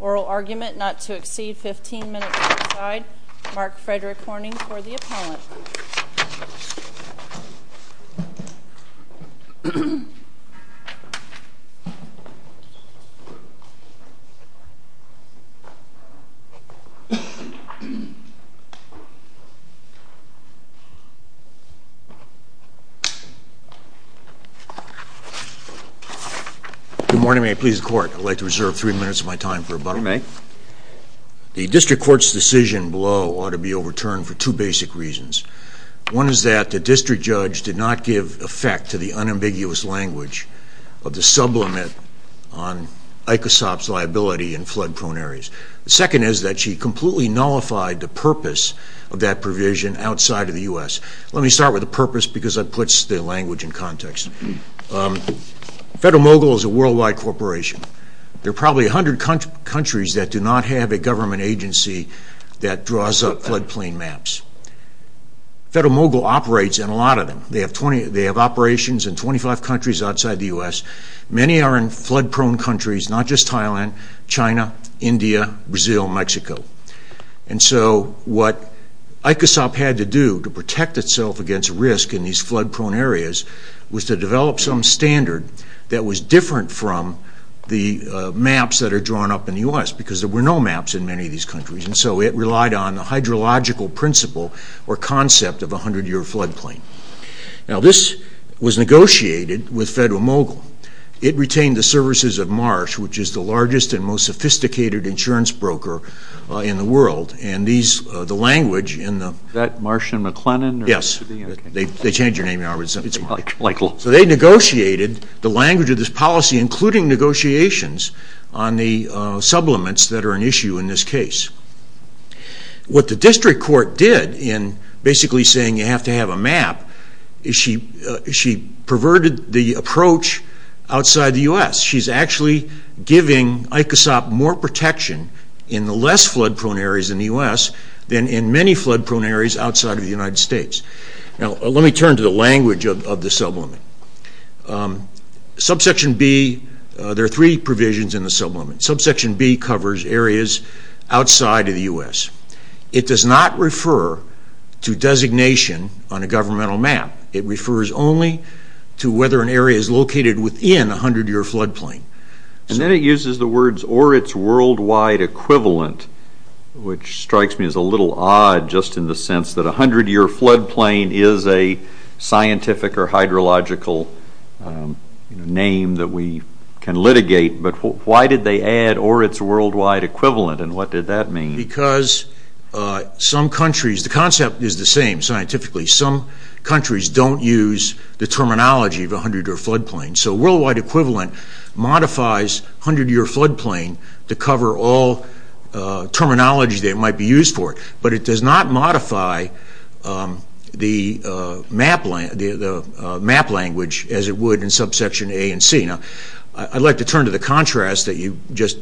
Oral argument not to exceed 15 minutes outside. Mark Frederick Horning for the appellant. Good morning. May I please the court? I'd like to reserve three minutes of my time for a buck. You may. The district court's decision below ought to be overturned for two basic reasons. One is that the district judge did not give effect to the unambiguous language of the sublimate on ICASOP's liability in flood-prone areas. The second is that she completely nullified the purpose of that provision outside of the U.S. Let me start with the purpose because that puts the language in context. Federal Mogul is a worldwide corporation. There are probably 100 countries that do not have a government agency that draws up floodplain maps. Federal Mogul operates in a lot of them. They have operations in 25 countries outside the U.S. Many are in flood-prone countries, not just Thailand, China, India, Brazil, Mexico. And so what ICASOP had to do to protect itself against risk in these flood-prone areas was to develop some standard that was different from the maps that are drawn up in the U.S. because there were no maps in many of these countries. And so it relied on the hydrological principle or concept of a 100-year floodplain. Now, this was negotiated with Federal Mogul. It retained the services of Marsh, which is the largest and most sophisticated insurance broker in the world. And the language in the… Is that Marsh and McLennan? Yes. They changed your name. So they negotiated the language of this policy, including negotiations on the supplements that are an issue in this case. What the district court did in basically saying you have to have a map is she perverted the approach outside the U.S. She's actually giving ICASOP more protection in the less flood-prone areas in the U.S. than in many flood-prone areas outside of the United States. Now, let me turn to the language of the supplement. Subsection B, there are three provisions in the supplement. Subsection B covers areas outside of the U.S. It does not refer to designation on a governmental map. It refers only to whether an area is located within a 100-year floodplain. And then it uses the words or its worldwide equivalent, which strikes me as a little odd just in the sense that a 100-year floodplain is a scientific or hydrological name that we can litigate. But why did they add or its worldwide equivalent, and what did that mean? Because some countries, the concept is the same scientifically. Some countries don't use the terminology of a 100-year floodplain. So worldwide equivalent modifies 100-year floodplain to cover all terminology that might be used for it. But it does not modify the map language as it would in subsection A and C. Now, I'd like to turn to the contrast that you just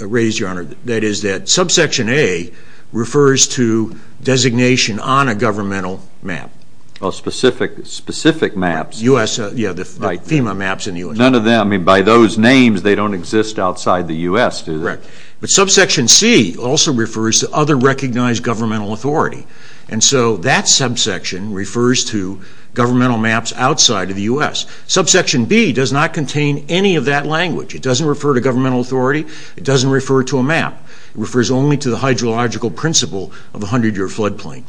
raised, Your Honor, that is that subsection A refers to designation on a governmental map. Well, specific maps. U.S., yeah, the FEMA maps in the U.S. None of them, I mean, by those names, they don't exist outside the U.S., do they? Correct. But subsection C also refers to other recognized governmental authority. And so that subsection refers to governmental maps outside of the U.S. Subsection B does not contain any of that language. It doesn't refer to governmental authority. It doesn't refer to a map. It refers only to the hydrological principle of a 100-year floodplain.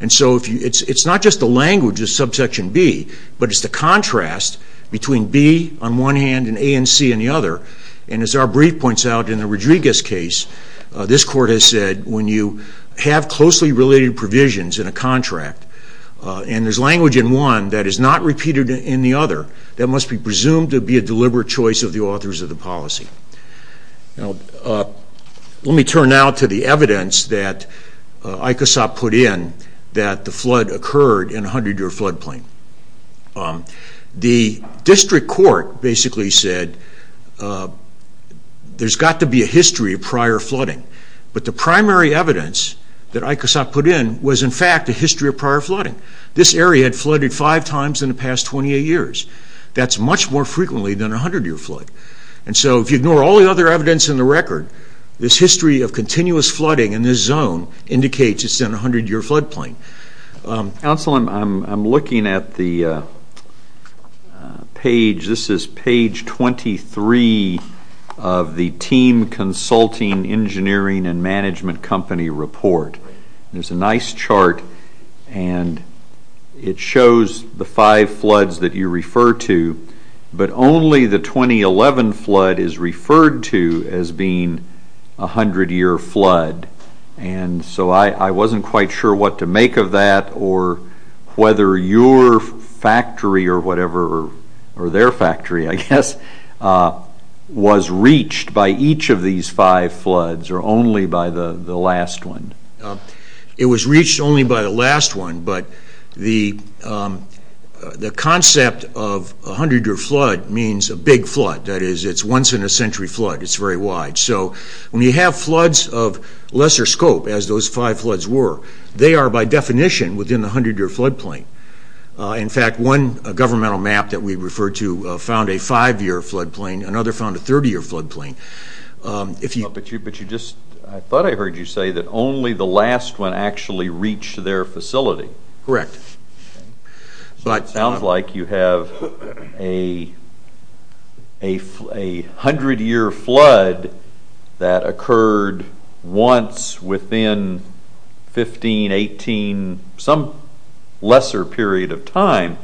And so it's not just the language of subsection B, but it's the contrast between B on one hand and A and C on the other. And as our brief points out in the Rodriguez case, this Court has said when you have closely related provisions in a contract and there's language in one that is not repeated in the other, that must be presumed to be a deliberate choice of the authors of the policy. Now, let me turn now to the evidence that ICASAP put in that the flood occurred in a 100-year floodplain. The district court basically said there's got to be a history of prior flooding. But the primary evidence that ICASAP put in was, in fact, a history of prior flooding. This area had flooded five times in the past 28 years. That's much more frequently than a 100-year flood. And so if you ignore all the other evidence in the record, this history of continuous flooding in this zone indicates it's in a 100-year floodplain. Counsel, I'm looking at the page. This is page 23 of the team consulting engineering and management company report. There's a nice chart, and it shows the five floods that you refer to, but only the 2011 flood is referred to as being a 100-year flood. And so I wasn't quite sure what to make of that or whether your factory or whatever, or their factory, I guess, was reached by each of these five floods or only by the last one. It was reached only by the last one, but the concept of a 100-year flood means a big flood. That is, it's a once-in-a-century flood. It's very wide. So when you have floods of lesser scope, as those five floods were, they are by definition within the 100-year floodplain. In fact, one governmental map that we refer to found a 5-year floodplain. Another found a 30-year floodplain. But I thought I heard you say that only the last one actually reached their facility. Correct. So it sounds like you have a 100-year flood that occurred once within 15, 18, some lesser period of time.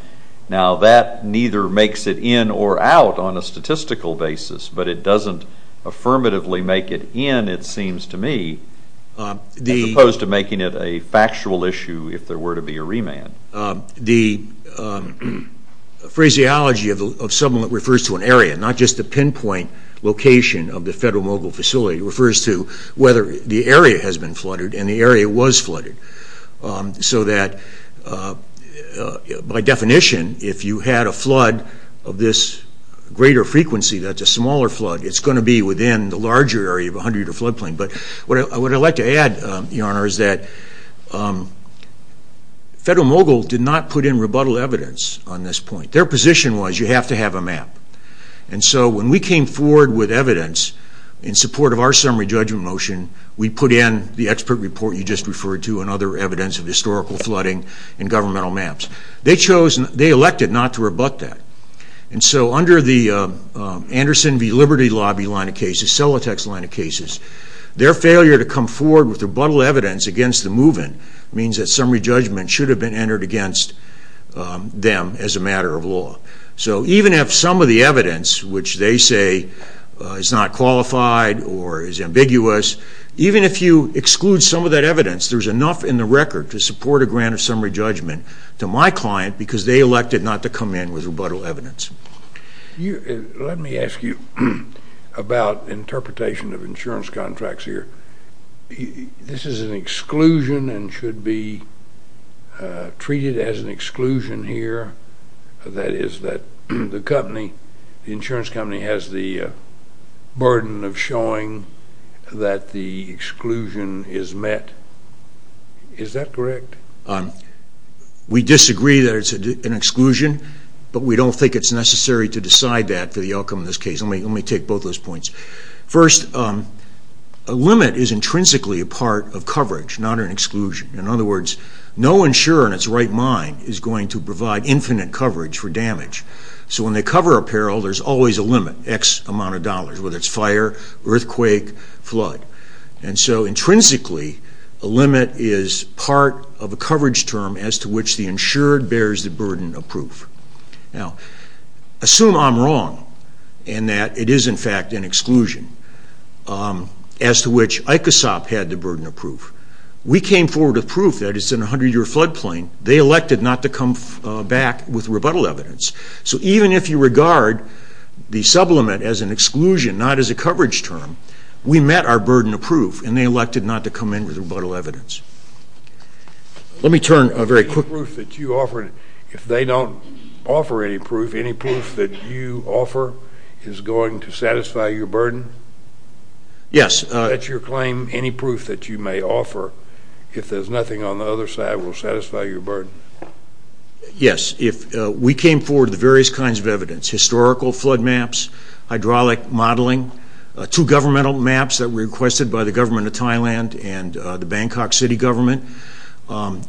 Now that neither makes it in or out on a statistical basis, but it doesn't affirmatively make it in, it seems to me, as opposed to making it a factual issue if there were to be a remand. The phraseology of sublimate refers to an area, not just the pinpoint location of the federal mobile facility. It refers to whether the area has been flooded and the area was flooded so that by definition, if you had a flood of this greater frequency, that's a smaller flood, it's going to be within the larger area of a 100-year floodplain. But what I'd like to add, Your Honor, is that Federal Mobile did not put in rebuttal evidence on this point. Their position was you have to have a map. And so when we came forward with evidence in support of our summary judgment motion, we put in the expert report you just referred to and other evidence of historical flooding and governmental maps. They elected not to rebut that. And so under the Anderson v. Liberty lobby line of cases, Celotex line of cases, their failure to come forward with rebuttal evidence against the move-in means that summary judgment should have been entered against them as a matter of law. So even if some of the evidence, which they say is not qualified or is ambiguous, even if you exclude some of that evidence, there's enough in the record to support a grant of summary judgment to my client because they elected not to come in with rebuttal evidence. Let me ask you about interpretation of insurance contracts here. This is an exclusion and should be treated as an exclusion here. That is that the insurance company has the burden of showing that the exclusion is met. Is that correct? We disagree that it's an exclusion, but we don't think it's necessary to decide that for the outcome of this case. Let me take both those points. First, a limit is intrinsically a part of coverage, not an exclusion. In other words, no insurer in its right mind is going to provide infinite coverage for damage. So when they cover apparel, there's always a limit, X amount of dollars, whether it's fire, earthquake, flood. Intrinsically, a limit is part of a coverage term as to which the insured bears the burden of proof. Assume I'm wrong and that it is in fact an exclusion as to which ICASOP had the burden of proof. We came forward with proof that it's in a 100-year flood plain. They elected not to come back with rebuttal evidence. Even if you regard the sublimate as an exclusion, not as a coverage term, we met our burden of proof, and they elected not to come in with rebuttal evidence. Let me turn very quickly... If they don't offer any proof, any proof that you offer is going to satisfy your burden? Yes. Is that your claim, any proof that you may offer, if there's nothing on the other side will satisfy your burden? Yes. We came forward with various kinds of evidence, historical flood maps, hydraulic modeling, two governmental maps that were requested by the government of Thailand and the Bangkok city government.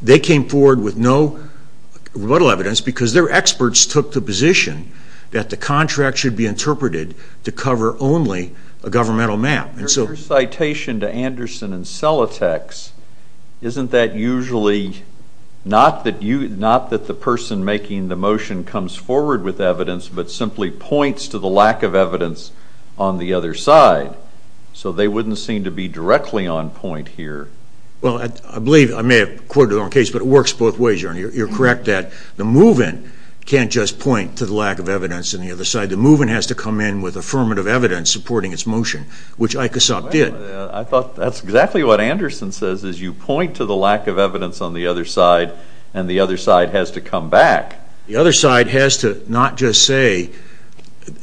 They came forward with no rebuttal evidence because their experts took the position that the contract should be interpreted to cover only a governmental map. Your citation to Anderson and Celotex, isn't that usually not that the person making the motion comes forward with evidence, but simply points to the lack of evidence on the other side? So they wouldn't seem to be directly on point here. Well, I believe, I may have quoted the wrong case, but it works both ways. You're correct that the move-in can't just point to the lack of evidence on the other side. The move-in has to come in with affirmative evidence supporting its motion, which ICASOP did. I thought that's exactly what Anderson says, is you point to the lack of evidence on the other side, and the other side has to come back. The other side has to not just say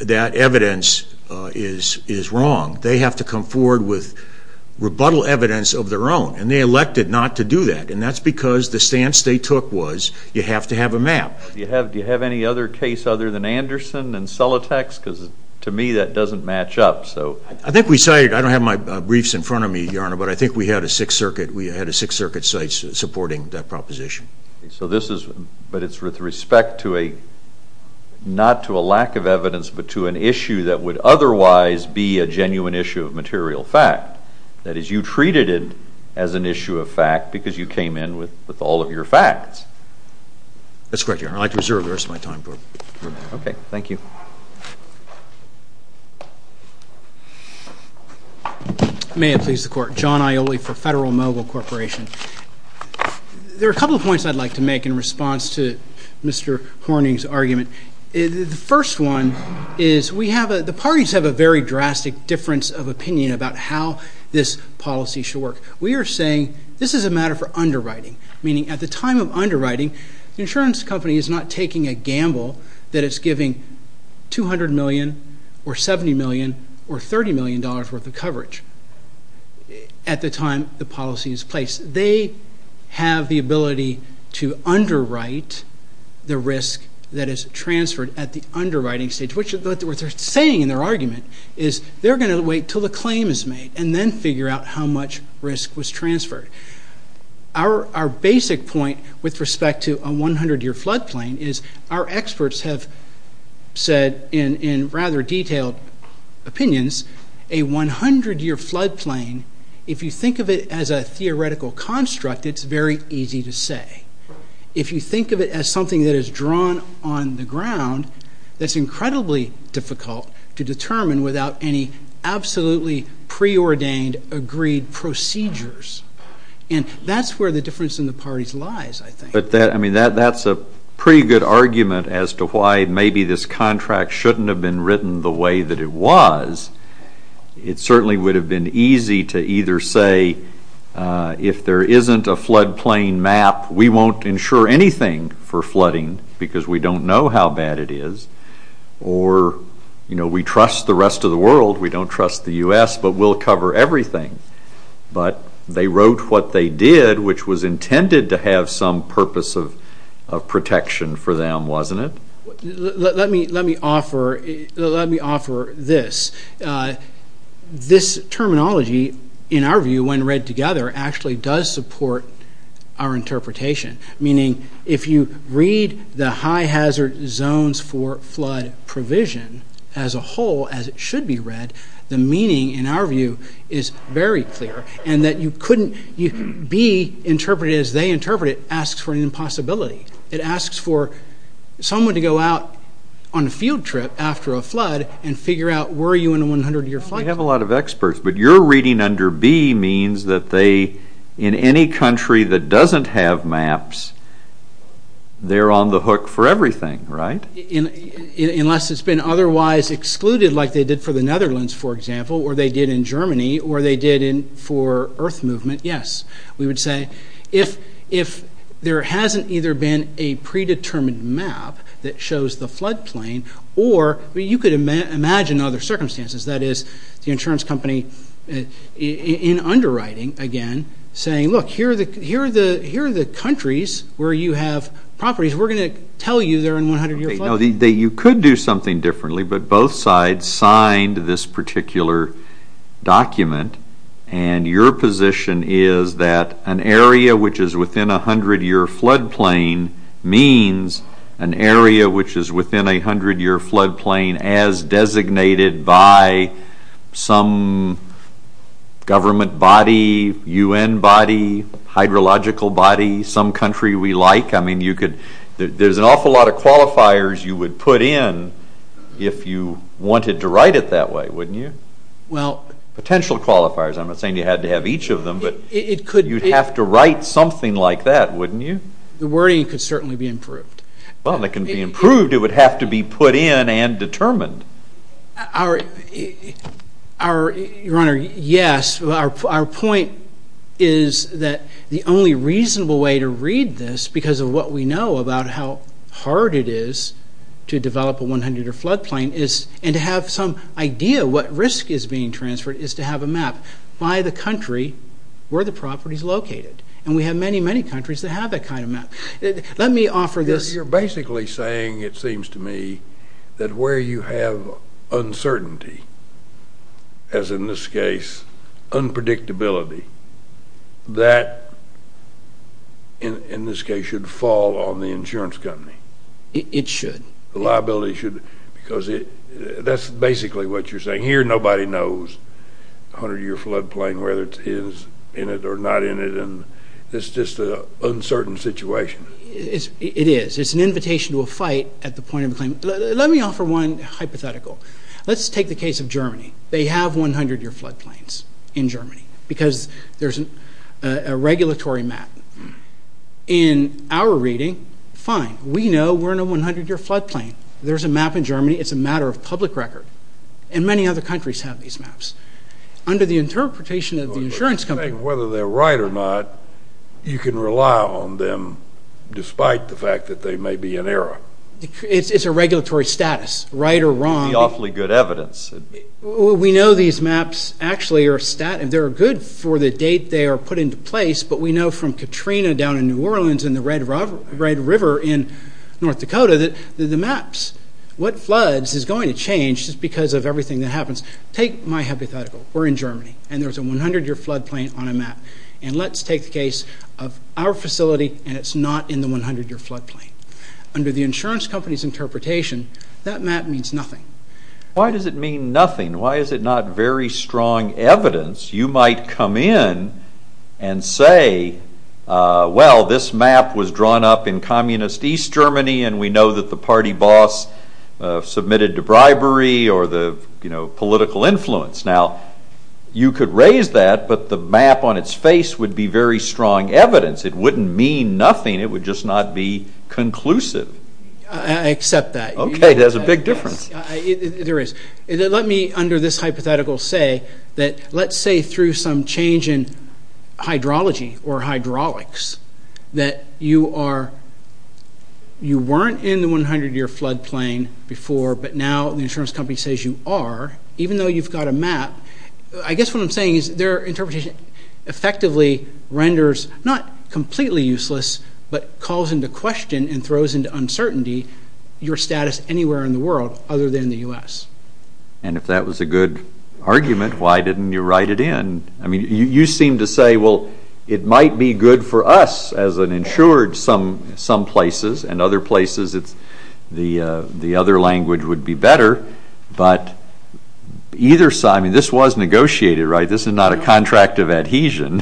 that evidence is wrong. They have to come forward with rebuttal evidence of their own, and they elected not to do that, and that's because the stance they took was you have to have a map. Do you have any other case other than Anderson and Celotex? Because to me that doesn't match up. I think we cited, I don't have my briefs in front of me, Your Honor, but I think we had a Sixth Circuit, we had a Sixth Circuit site supporting that proposition. So this is, but it's with respect to a, not to a lack of evidence, but to an issue that would otherwise be a genuine issue of material fact. That is, you treated it as an issue of fact because you came in with all of your facts. That's correct, Your Honor. I'd like to reserve the rest of my time. Okay. Thank you. May it please the Court. John Aioli for Federal Mogul Corporation. There are a couple of points I'd like to make in response to Mr. Horning's argument. The first one is we have a, the parties have a very drastic difference of opinion about how this policy should work. We are saying this is a matter for underwriting, meaning at the time of underwriting the insurance company is not taking a gamble that it's giving $200 million or $70 million or $30 million worth of coverage at the time the policy is placed. They have the ability to underwrite the risk that is transferred at the underwriting stage, which what they're saying in their argument is they're going to wait until the claim is made and then figure out how much risk was transferred. Our basic point with respect to a 100-year flood plain is our experts have said that in rather detailed opinions, a 100-year flood plain, if you think of it as a theoretical construct, it's very easy to say. If you think of it as something that is drawn on the ground, that's incredibly difficult to determine without any absolutely preordained agreed procedures. And that's where the difference in the parties lies, I think. But that's a pretty good argument as to why maybe this contract shouldn't have been written the way that it was. It certainly would have been easy to either say if there isn't a flood plain map, we won't insure anything for flooding because we don't know how bad it is, or we trust the rest of the world, we don't trust the U.S., but we'll cover everything. But they wrote what they did, which was intended to have some purpose of protection for them, wasn't it? Let me offer this. This terminology, in our view, when read together, actually does support our interpretation, meaning if you read the high hazard zones for flood provision as a whole, as it should be read, the meaning, in our view, is very clear. And that you couldn't be interpreted as they interpret it asks for an impossibility. It asks for someone to go out on a field trip after a flood and figure out were you in a 100-year flood. We have a lot of experts, but your reading under B means that they, in any country that doesn't have maps, they're on the hook for everything, right? Unless it's been otherwise excluded like they did for the Netherlands, for example, or they did in Germany, or they did for earth movement, yes. We would say if there hasn't either been a predetermined map that shows the flood plain, or you could imagine other circumstances, that is, the insurance company in underwriting, again, saying, look, here are the countries where you have properties. We're going to tell you they're in 100-year flood. You could do something differently, but both sides signed this particular document, and your position is that an area which is within a 100-year flood plain means an area which is within a 100-year flood plain as designated by some government body, UN body, hydrological body, some country we like. I mean, there's an awful lot of qualifiers you would put in if you wanted to write it that way, wouldn't you? Potential qualifiers. I'm not saying you had to have each of them, but you'd have to write something like that, wouldn't you? The wording could certainly be improved. Well, it can be improved. It would have to be put in and determined. Your Honor, yes, our point is that the only reasonable way to read this, because of what we know about how hard it is to develop a 100-year flood plain, and to have some idea what risk is being transferred, is to have a map by the country where the property is located. And we have many, many countries that have that kind of map. Let me offer this. You're basically saying, it seems to me, that where you have uncertainty, as in this case, unpredictability, that, in this case, should fall on the insurance company. It should. The liability should, because that's basically what you're saying. Here, nobody knows a 100-year flood plain, whether it is in it or not in it, and it's just an uncertain situation. It is. It's an invitation to a fight at the point of a claim. Let me offer one hypothetical. Let's take the case of Germany. They have 100-year flood plains in Germany because there's a regulatory map. In our reading, fine. We know we're in a 100-year flood plain. There's a map in Germany. It's a matter of public record. And many other countries have these maps. Under the interpretation of the insurance company. And whether they're right or not, you can rely on them despite the fact that they may be in error. It's a regulatory status, right or wrong. The awfully good evidence. We know these maps actually are good for the date they are put into place, but we know from Katrina down in New Orleans and the Red River in North Dakota that the maps, what floods is going to change just because of everything that happens. Take my hypothetical. We're in Germany and there's a 100-year flood plain on a map. And let's take the case of our facility and it's not in the 100-year flood plain. Under the insurance company's interpretation, that map means nothing. Why does it mean nothing? Why is it not very strong evidence? You might come in and say, well, this map was drawn up in communist East Germany and we know that the party boss submitted to bribery or the political influence. Now, you could raise that, but the map on its face would be very strong evidence. It wouldn't mean nothing. It would just not be conclusive. I accept that. Okay. There's a big difference. There is. Let me under this hypothetical say that let's say through some change in hydrology or hydraulics that you weren't in the 100-year flood plain before, but now the insurance company says you are, even though you've got a map. I guess what I'm saying is their interpretation effectively renders not completely useless, but calls into question and throws into uncertainty your status anywhere in the world other than the U.S. And if that was a good argument, why didn't you write it in? I mean, you seem to say, well, it might be good for us as an insured some places, and other places the other language would be better. But either side, I mean, this was negotiated, right? This is not a contract of adhesion.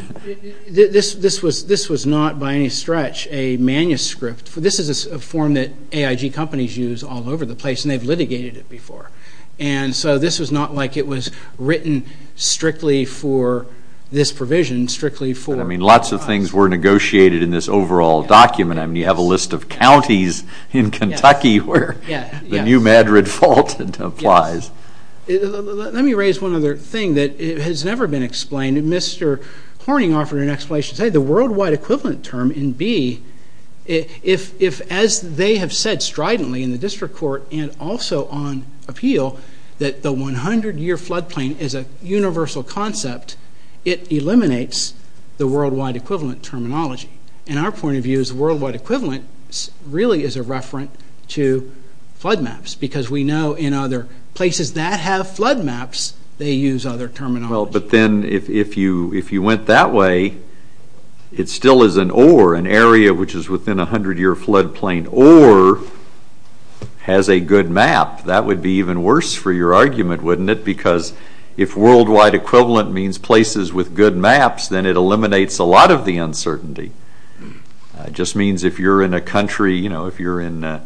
This was not by any stretch a manuscript. This is a form that AIG companies use all over the place, and they've litigated it before. And so this was not like it was written strictly for this provision, strictly for... I mean, lots of things were negotiated in this overall document. I mean, you have a list of counties in Kentucky where the new Madrid Fault applies. Let me raise one other thing that has never been explained. Mr. Horning offered an explanation. He said the worldwide equivalent term in B, if as they have said stridently in the district court and also on appeal that the 100-year flood plain is a universal concept, it eliminates the worldwide equivalent terminology. And our point of view is the worldwide equivalent really is a referent to flood maps because we know in other places that have flood maps, they use other terminology. Well, but then if you went that way, it still is an or, an area which is within a 100-year flood plain, or has a good map. That would be even worse for your argument, wouldn't it? Because if worldwide equivalent means places with good maps, then it eliminates a lot of the uncertainty. It just means if you're in a country, you know, if you're in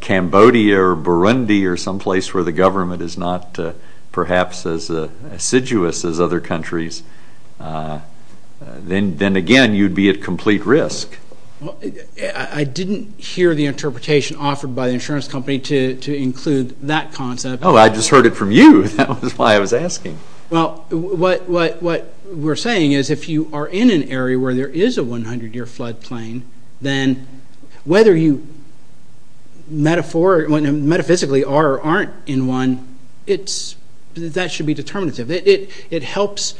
Cambodia or Burundi or someplace where the government is not perhaps as assiduous as other countries, then again you'd be at complete risk. I didn't hear the interpretation offered by the insurance company to include that concept. Oh, I just heard it from you. That was why I was asking. Well, what we're saying is if you are in an area where there is a 100-year flood plain, then whether you metaphysically are or aren't in one, that should be determinative. It helps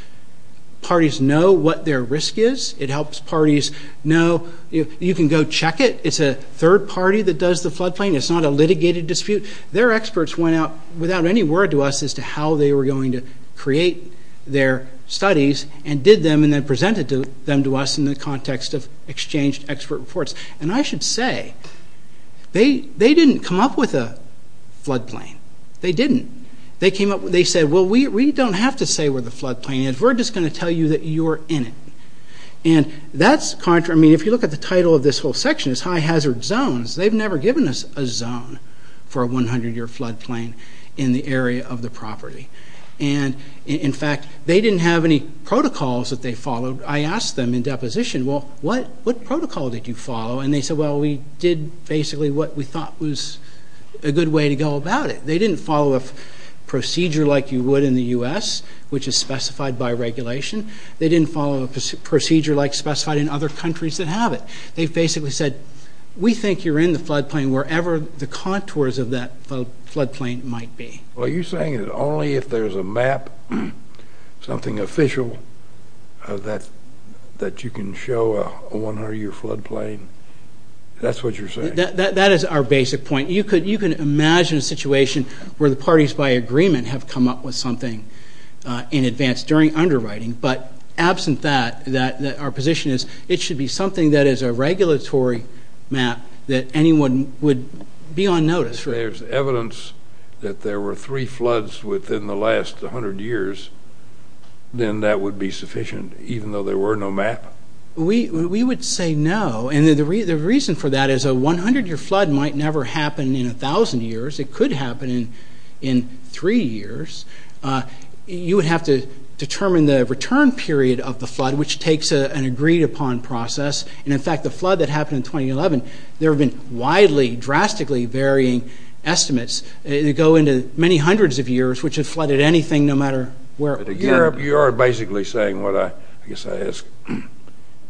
parties know what their risk is. It helps parties know – you can go check it. It's a third party that does the flood plain. It's not a litigated dispute. Their experts went out without any word to us as to how they were going to create their studies and did them and then presented them to us in the context of exchanged expert reports. And I should say, they didn't come up with a flood plain. They didn't. They said, well, we don't have to say where the flood plain is. We're just going to tell you that you're in it. And that's contrary – I mean, if you look at the title of this whole section, it's high hazard zones. They've never given us a zone for a 100-year flood plain in the area of the property. And, in fact, they didn't have any protocols that they followed. I asked them in deposition, well, what protocol did you follow? And they said, well, we did basically what we thought was a good way to go about it. They didn't follow a procedure like you would in the U.S., which is specified by regulation. They didn't follow a procedure like specified in other countries that have it. They basically said, we think you're in the flood plain wherever the contours of that flood plain might be. Are you saying that only if there's a map, something official, that you can show a 100-year flood plain? That's what you're saying? That is our basic point. You can imagine a situation where the parties by agreement have come up with something in advance during underwriting. But absent that, our position is it should be something that is a regulatory map that anyone would be on notice. If there's evidence that there were three floods within the last 100 years, then that would be sufficient, even though there were no map? We would say no. And the reason for that is a 100-year flood might never happen in 1,000 years. It could happen in three years. You would have to determine the return period of the flood, which takes an agreed-upon process. And, in fact, the flood that happened in 2011, there have been widely, drastically varying estimates. They go into many hundreds of years, which have flooded anything no matter where. You are basically saying what I guess I ask.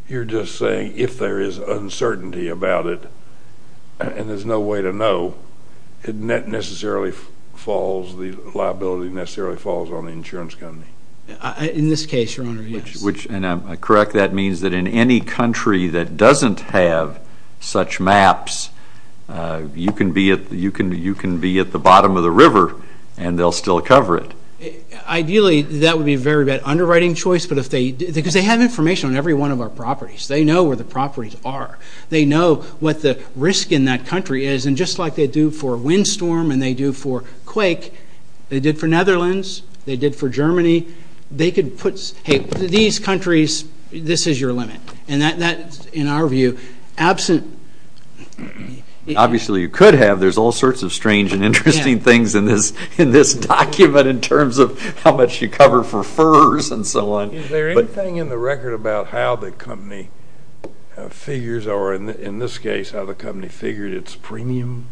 You're just saying if there is uncertainty about it and there's no way to know, the liability necessarily falls on the insurance company? In this case, Your Honor, yes. And I'm correct. That means that in any country that doesn't have such maps, you can be at the bottom of the river and they'll still cover it. Ideally, that would be a very bad underwriting choice because they have information on every one of our properties. They know where the properties are. They know what the risk in that country is. And just like they do for windstorm and they do for quake, they did for Netherlands, they did for Germany. They could put, hey, these countries, this is your limit. And that, in our view, absent... Obviously, you could have. There's all sorts of strange and interesting things in this document in terms of how much you cover for furs and so on. Is there anything in the record about how the company figures or, in this case, how the company figured its premiums?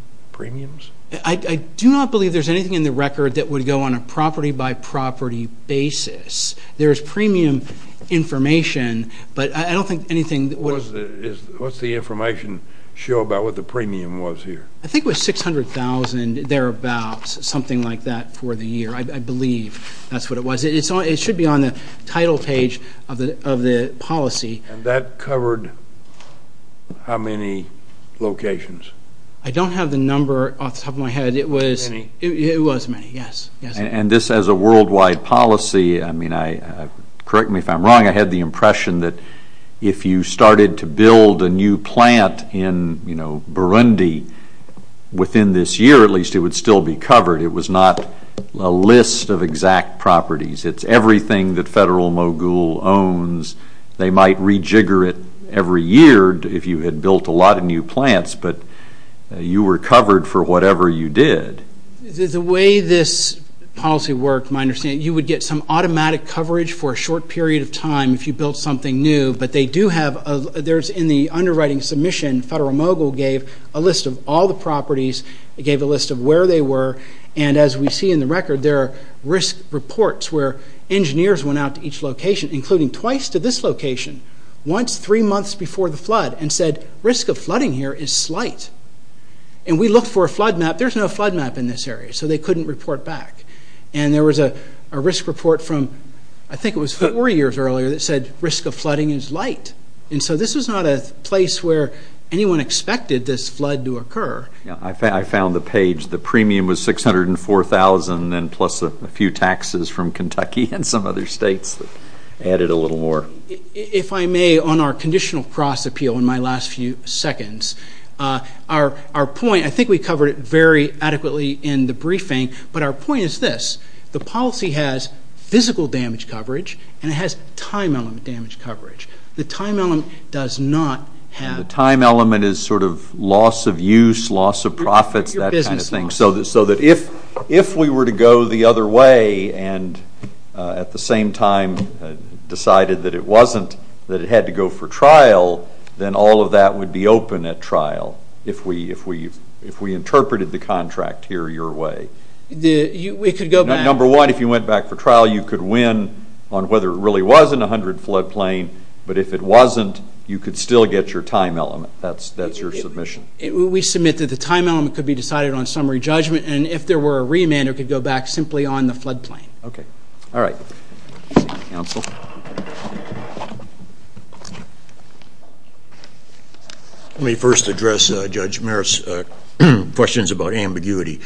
I do not believe there's anything in the record that would go on a property-by-property basis. There is premium information, but I don't think anything... What's the information show about what the premium was here? I think it was $600,000, thereabouts, something like that, for the year. I believe that's what it was. It should be on the title page of the policy. And that covered how many locations? I don't have the number off the top of my head. It was many, yes. And this has a worldwide policy. I mean, correct me if I'm wrong, I had the impression that if you started to build a new plant in Burundi within this year, at least it would still be covered. It was not a list of exact properties. It's everything that Federal Mogul owns. They might rejigger it every year if you had built a lot of new plants, but you were covered for whatever you did. The way this policy worked, you would get some automatic coverage for a short period of time if you built something new, but in the underwriting submission, Federal Mogul gave a list of all the properties, gave a list of where they were, and as we see in the record, there are risk reports where engineers went out to each location, including twice to this location, once three months before the flood, and said, risk of flooding here is slight. And we looked for a flood map. There's no flood map in this area, so they couldn't report back. And there was a risk report from, I think it was four years earlier, that said risk of flooding is light. And so this was not a place where anyone expected this flood to occur. I found the page. The premium was $604,000, and plus a few taxes from Kentucky and some other states added a little more. If I may, on our conditional cross-appeal in my last few seconds, our point, I think we covered it very adequately in the briefing, but our point is this. The policy has physical damage coverage, and it has time element damage coverage. The time element does not have... The time element is sort of loss of use, loss of profits, that kind of thing. So that if we were to go the other way and at the same time decided that it had to go for trial, then all of that would be open at trial if we interpreted the contract here your way. Number one, if you went back for trial, you could win on whether it really was an 100-flood plain, but if it wasn't, you could still get your time element. That's your submission. We submit that the time element could be decided on summary judgment, and if there were a remand, it could go back simply on the flood plain. Okay. All right. Counsel. Let me first address Judge Merritt's questions about ambiguity.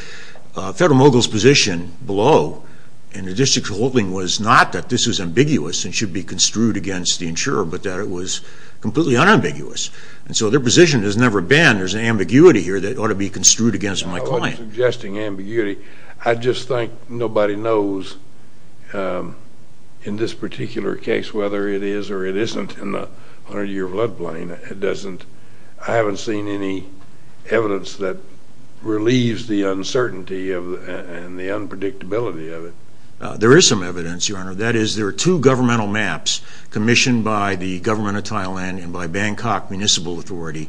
Federal mogul's position below in the district holding was not that this was ambiguous and should be construed against the insurer, but that it was completely unambiguous. And so their position has never been there's an ambiguity here that ought to be construed against my client. I wasn't suggesting ambiguity. I just think nobody knows in this particular case whether it is or it isn't in the 100-year flood plain. I haven't seen any evidence that relieves the uncertainty and the unpredictability of it. There is some evidence, Your Honor. That is, there are two governmental maps commissioned by the government of Thailand and by Bangkok Municipal Authority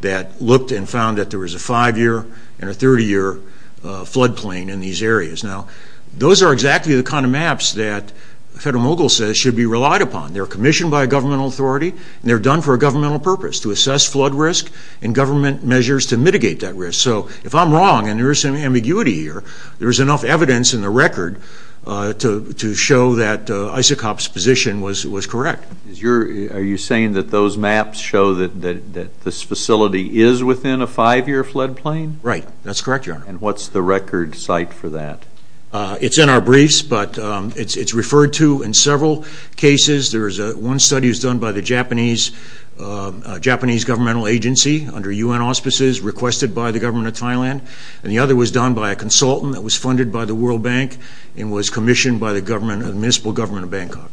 that looked and found that there was a 5-year and a 30-year flood plain in these areas. Now, those are exactly the kind of maps that the federal mogul says should be relied upon. They're commissioned by a governmental authority, and they're done for a governmental purpose, to assess flood risk and government measures to mitigate that risk. So if I'm wrong and there is some ambiguity here, there is enough evidence in the record to show that Isaac Hopp's position was correct. Are you saying that those maps show that this facility is within a 5-year flood plain? Right. That's correct, Your Honor. And what's the record site for that? It's in our briefs, but it's referred to in several cases. One study was done by the Japanese governmental agency under U.N. auspices requested by the government of Thailand, and the other was done by a consultant that was funded by the World Bank and was commissioned by the municipal government of Bangkok.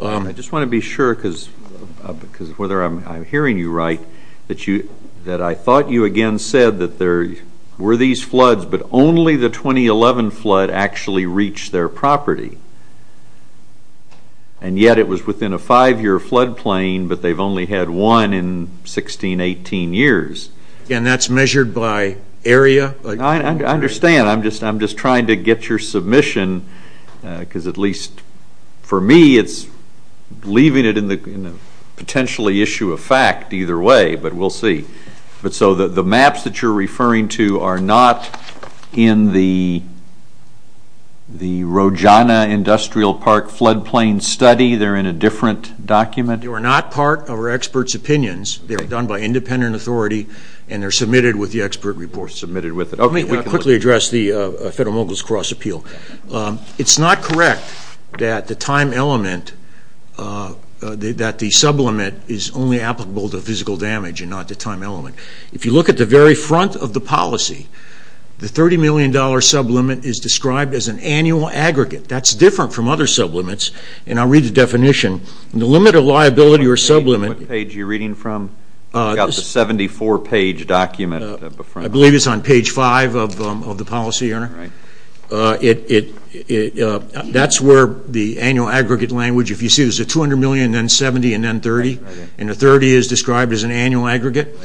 I just want to be sure, because whether I'm hearing you right, that I thought you again said that there were these floods, but only the 2011 flood actually reached their property, and yet it was within a 5-year flood plain, but they've only had one in 16, 18 years. And that's measured by area? I understand. I'm just trying to get your submission, because at least for me it's leaving it in a potentially issue of fact either way, but we'll see. But so the maps that you're referring to are not in the Rojana Industrial Park flood plain study? They're in a different document? They were not part of our experts' opinions. They were done by independent authority, and they're submitted with the expert report. Let me quickly address the Federal Mogul's Cross Appeal. It's not correct that the time element, that the sublimit is only applicable to physical damage and not the time element. If you look at the very front of the policy, the $30 million sublimit is described as an annual aggregate. That's different from other sublimits, and I'll read the definition. The limit of liability or sublimit... What page are you reading from? I've got the 74-page document up front. I believe it's on page 5 of the policy. That's where the annual aggregate language, if you see there's a $200 million, then $70 million, and then $30 million, and the $30 million is described as an annual aggregate.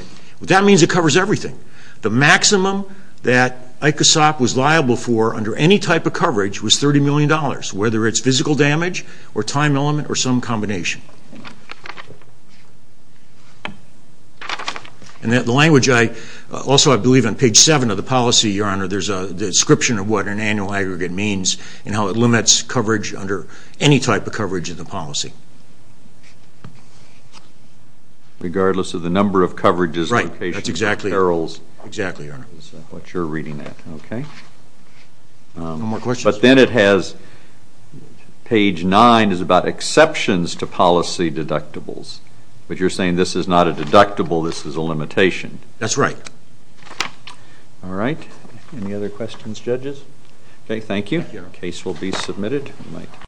That means it covers everything. The maximum that ICASOP was liable for under any type of coverage was $30 million, whether it's physical damage or time element or some combination. And the language I... Also, I believe on page 7 of the policy, Your Honor, there's a description of what an annual aggregate means and how it limits coverage under any type of coverage in the policy. Regardless of the number of coverages... Right, that's exactly... Perils... Exactly, Your Honor. That's what you're reading at, okay. No more questions. But then it has... But you're saying this is not a deductible, this is a limitation. That's right. All right. Any other questions, judges? Okay, thank you. The case will be submitted.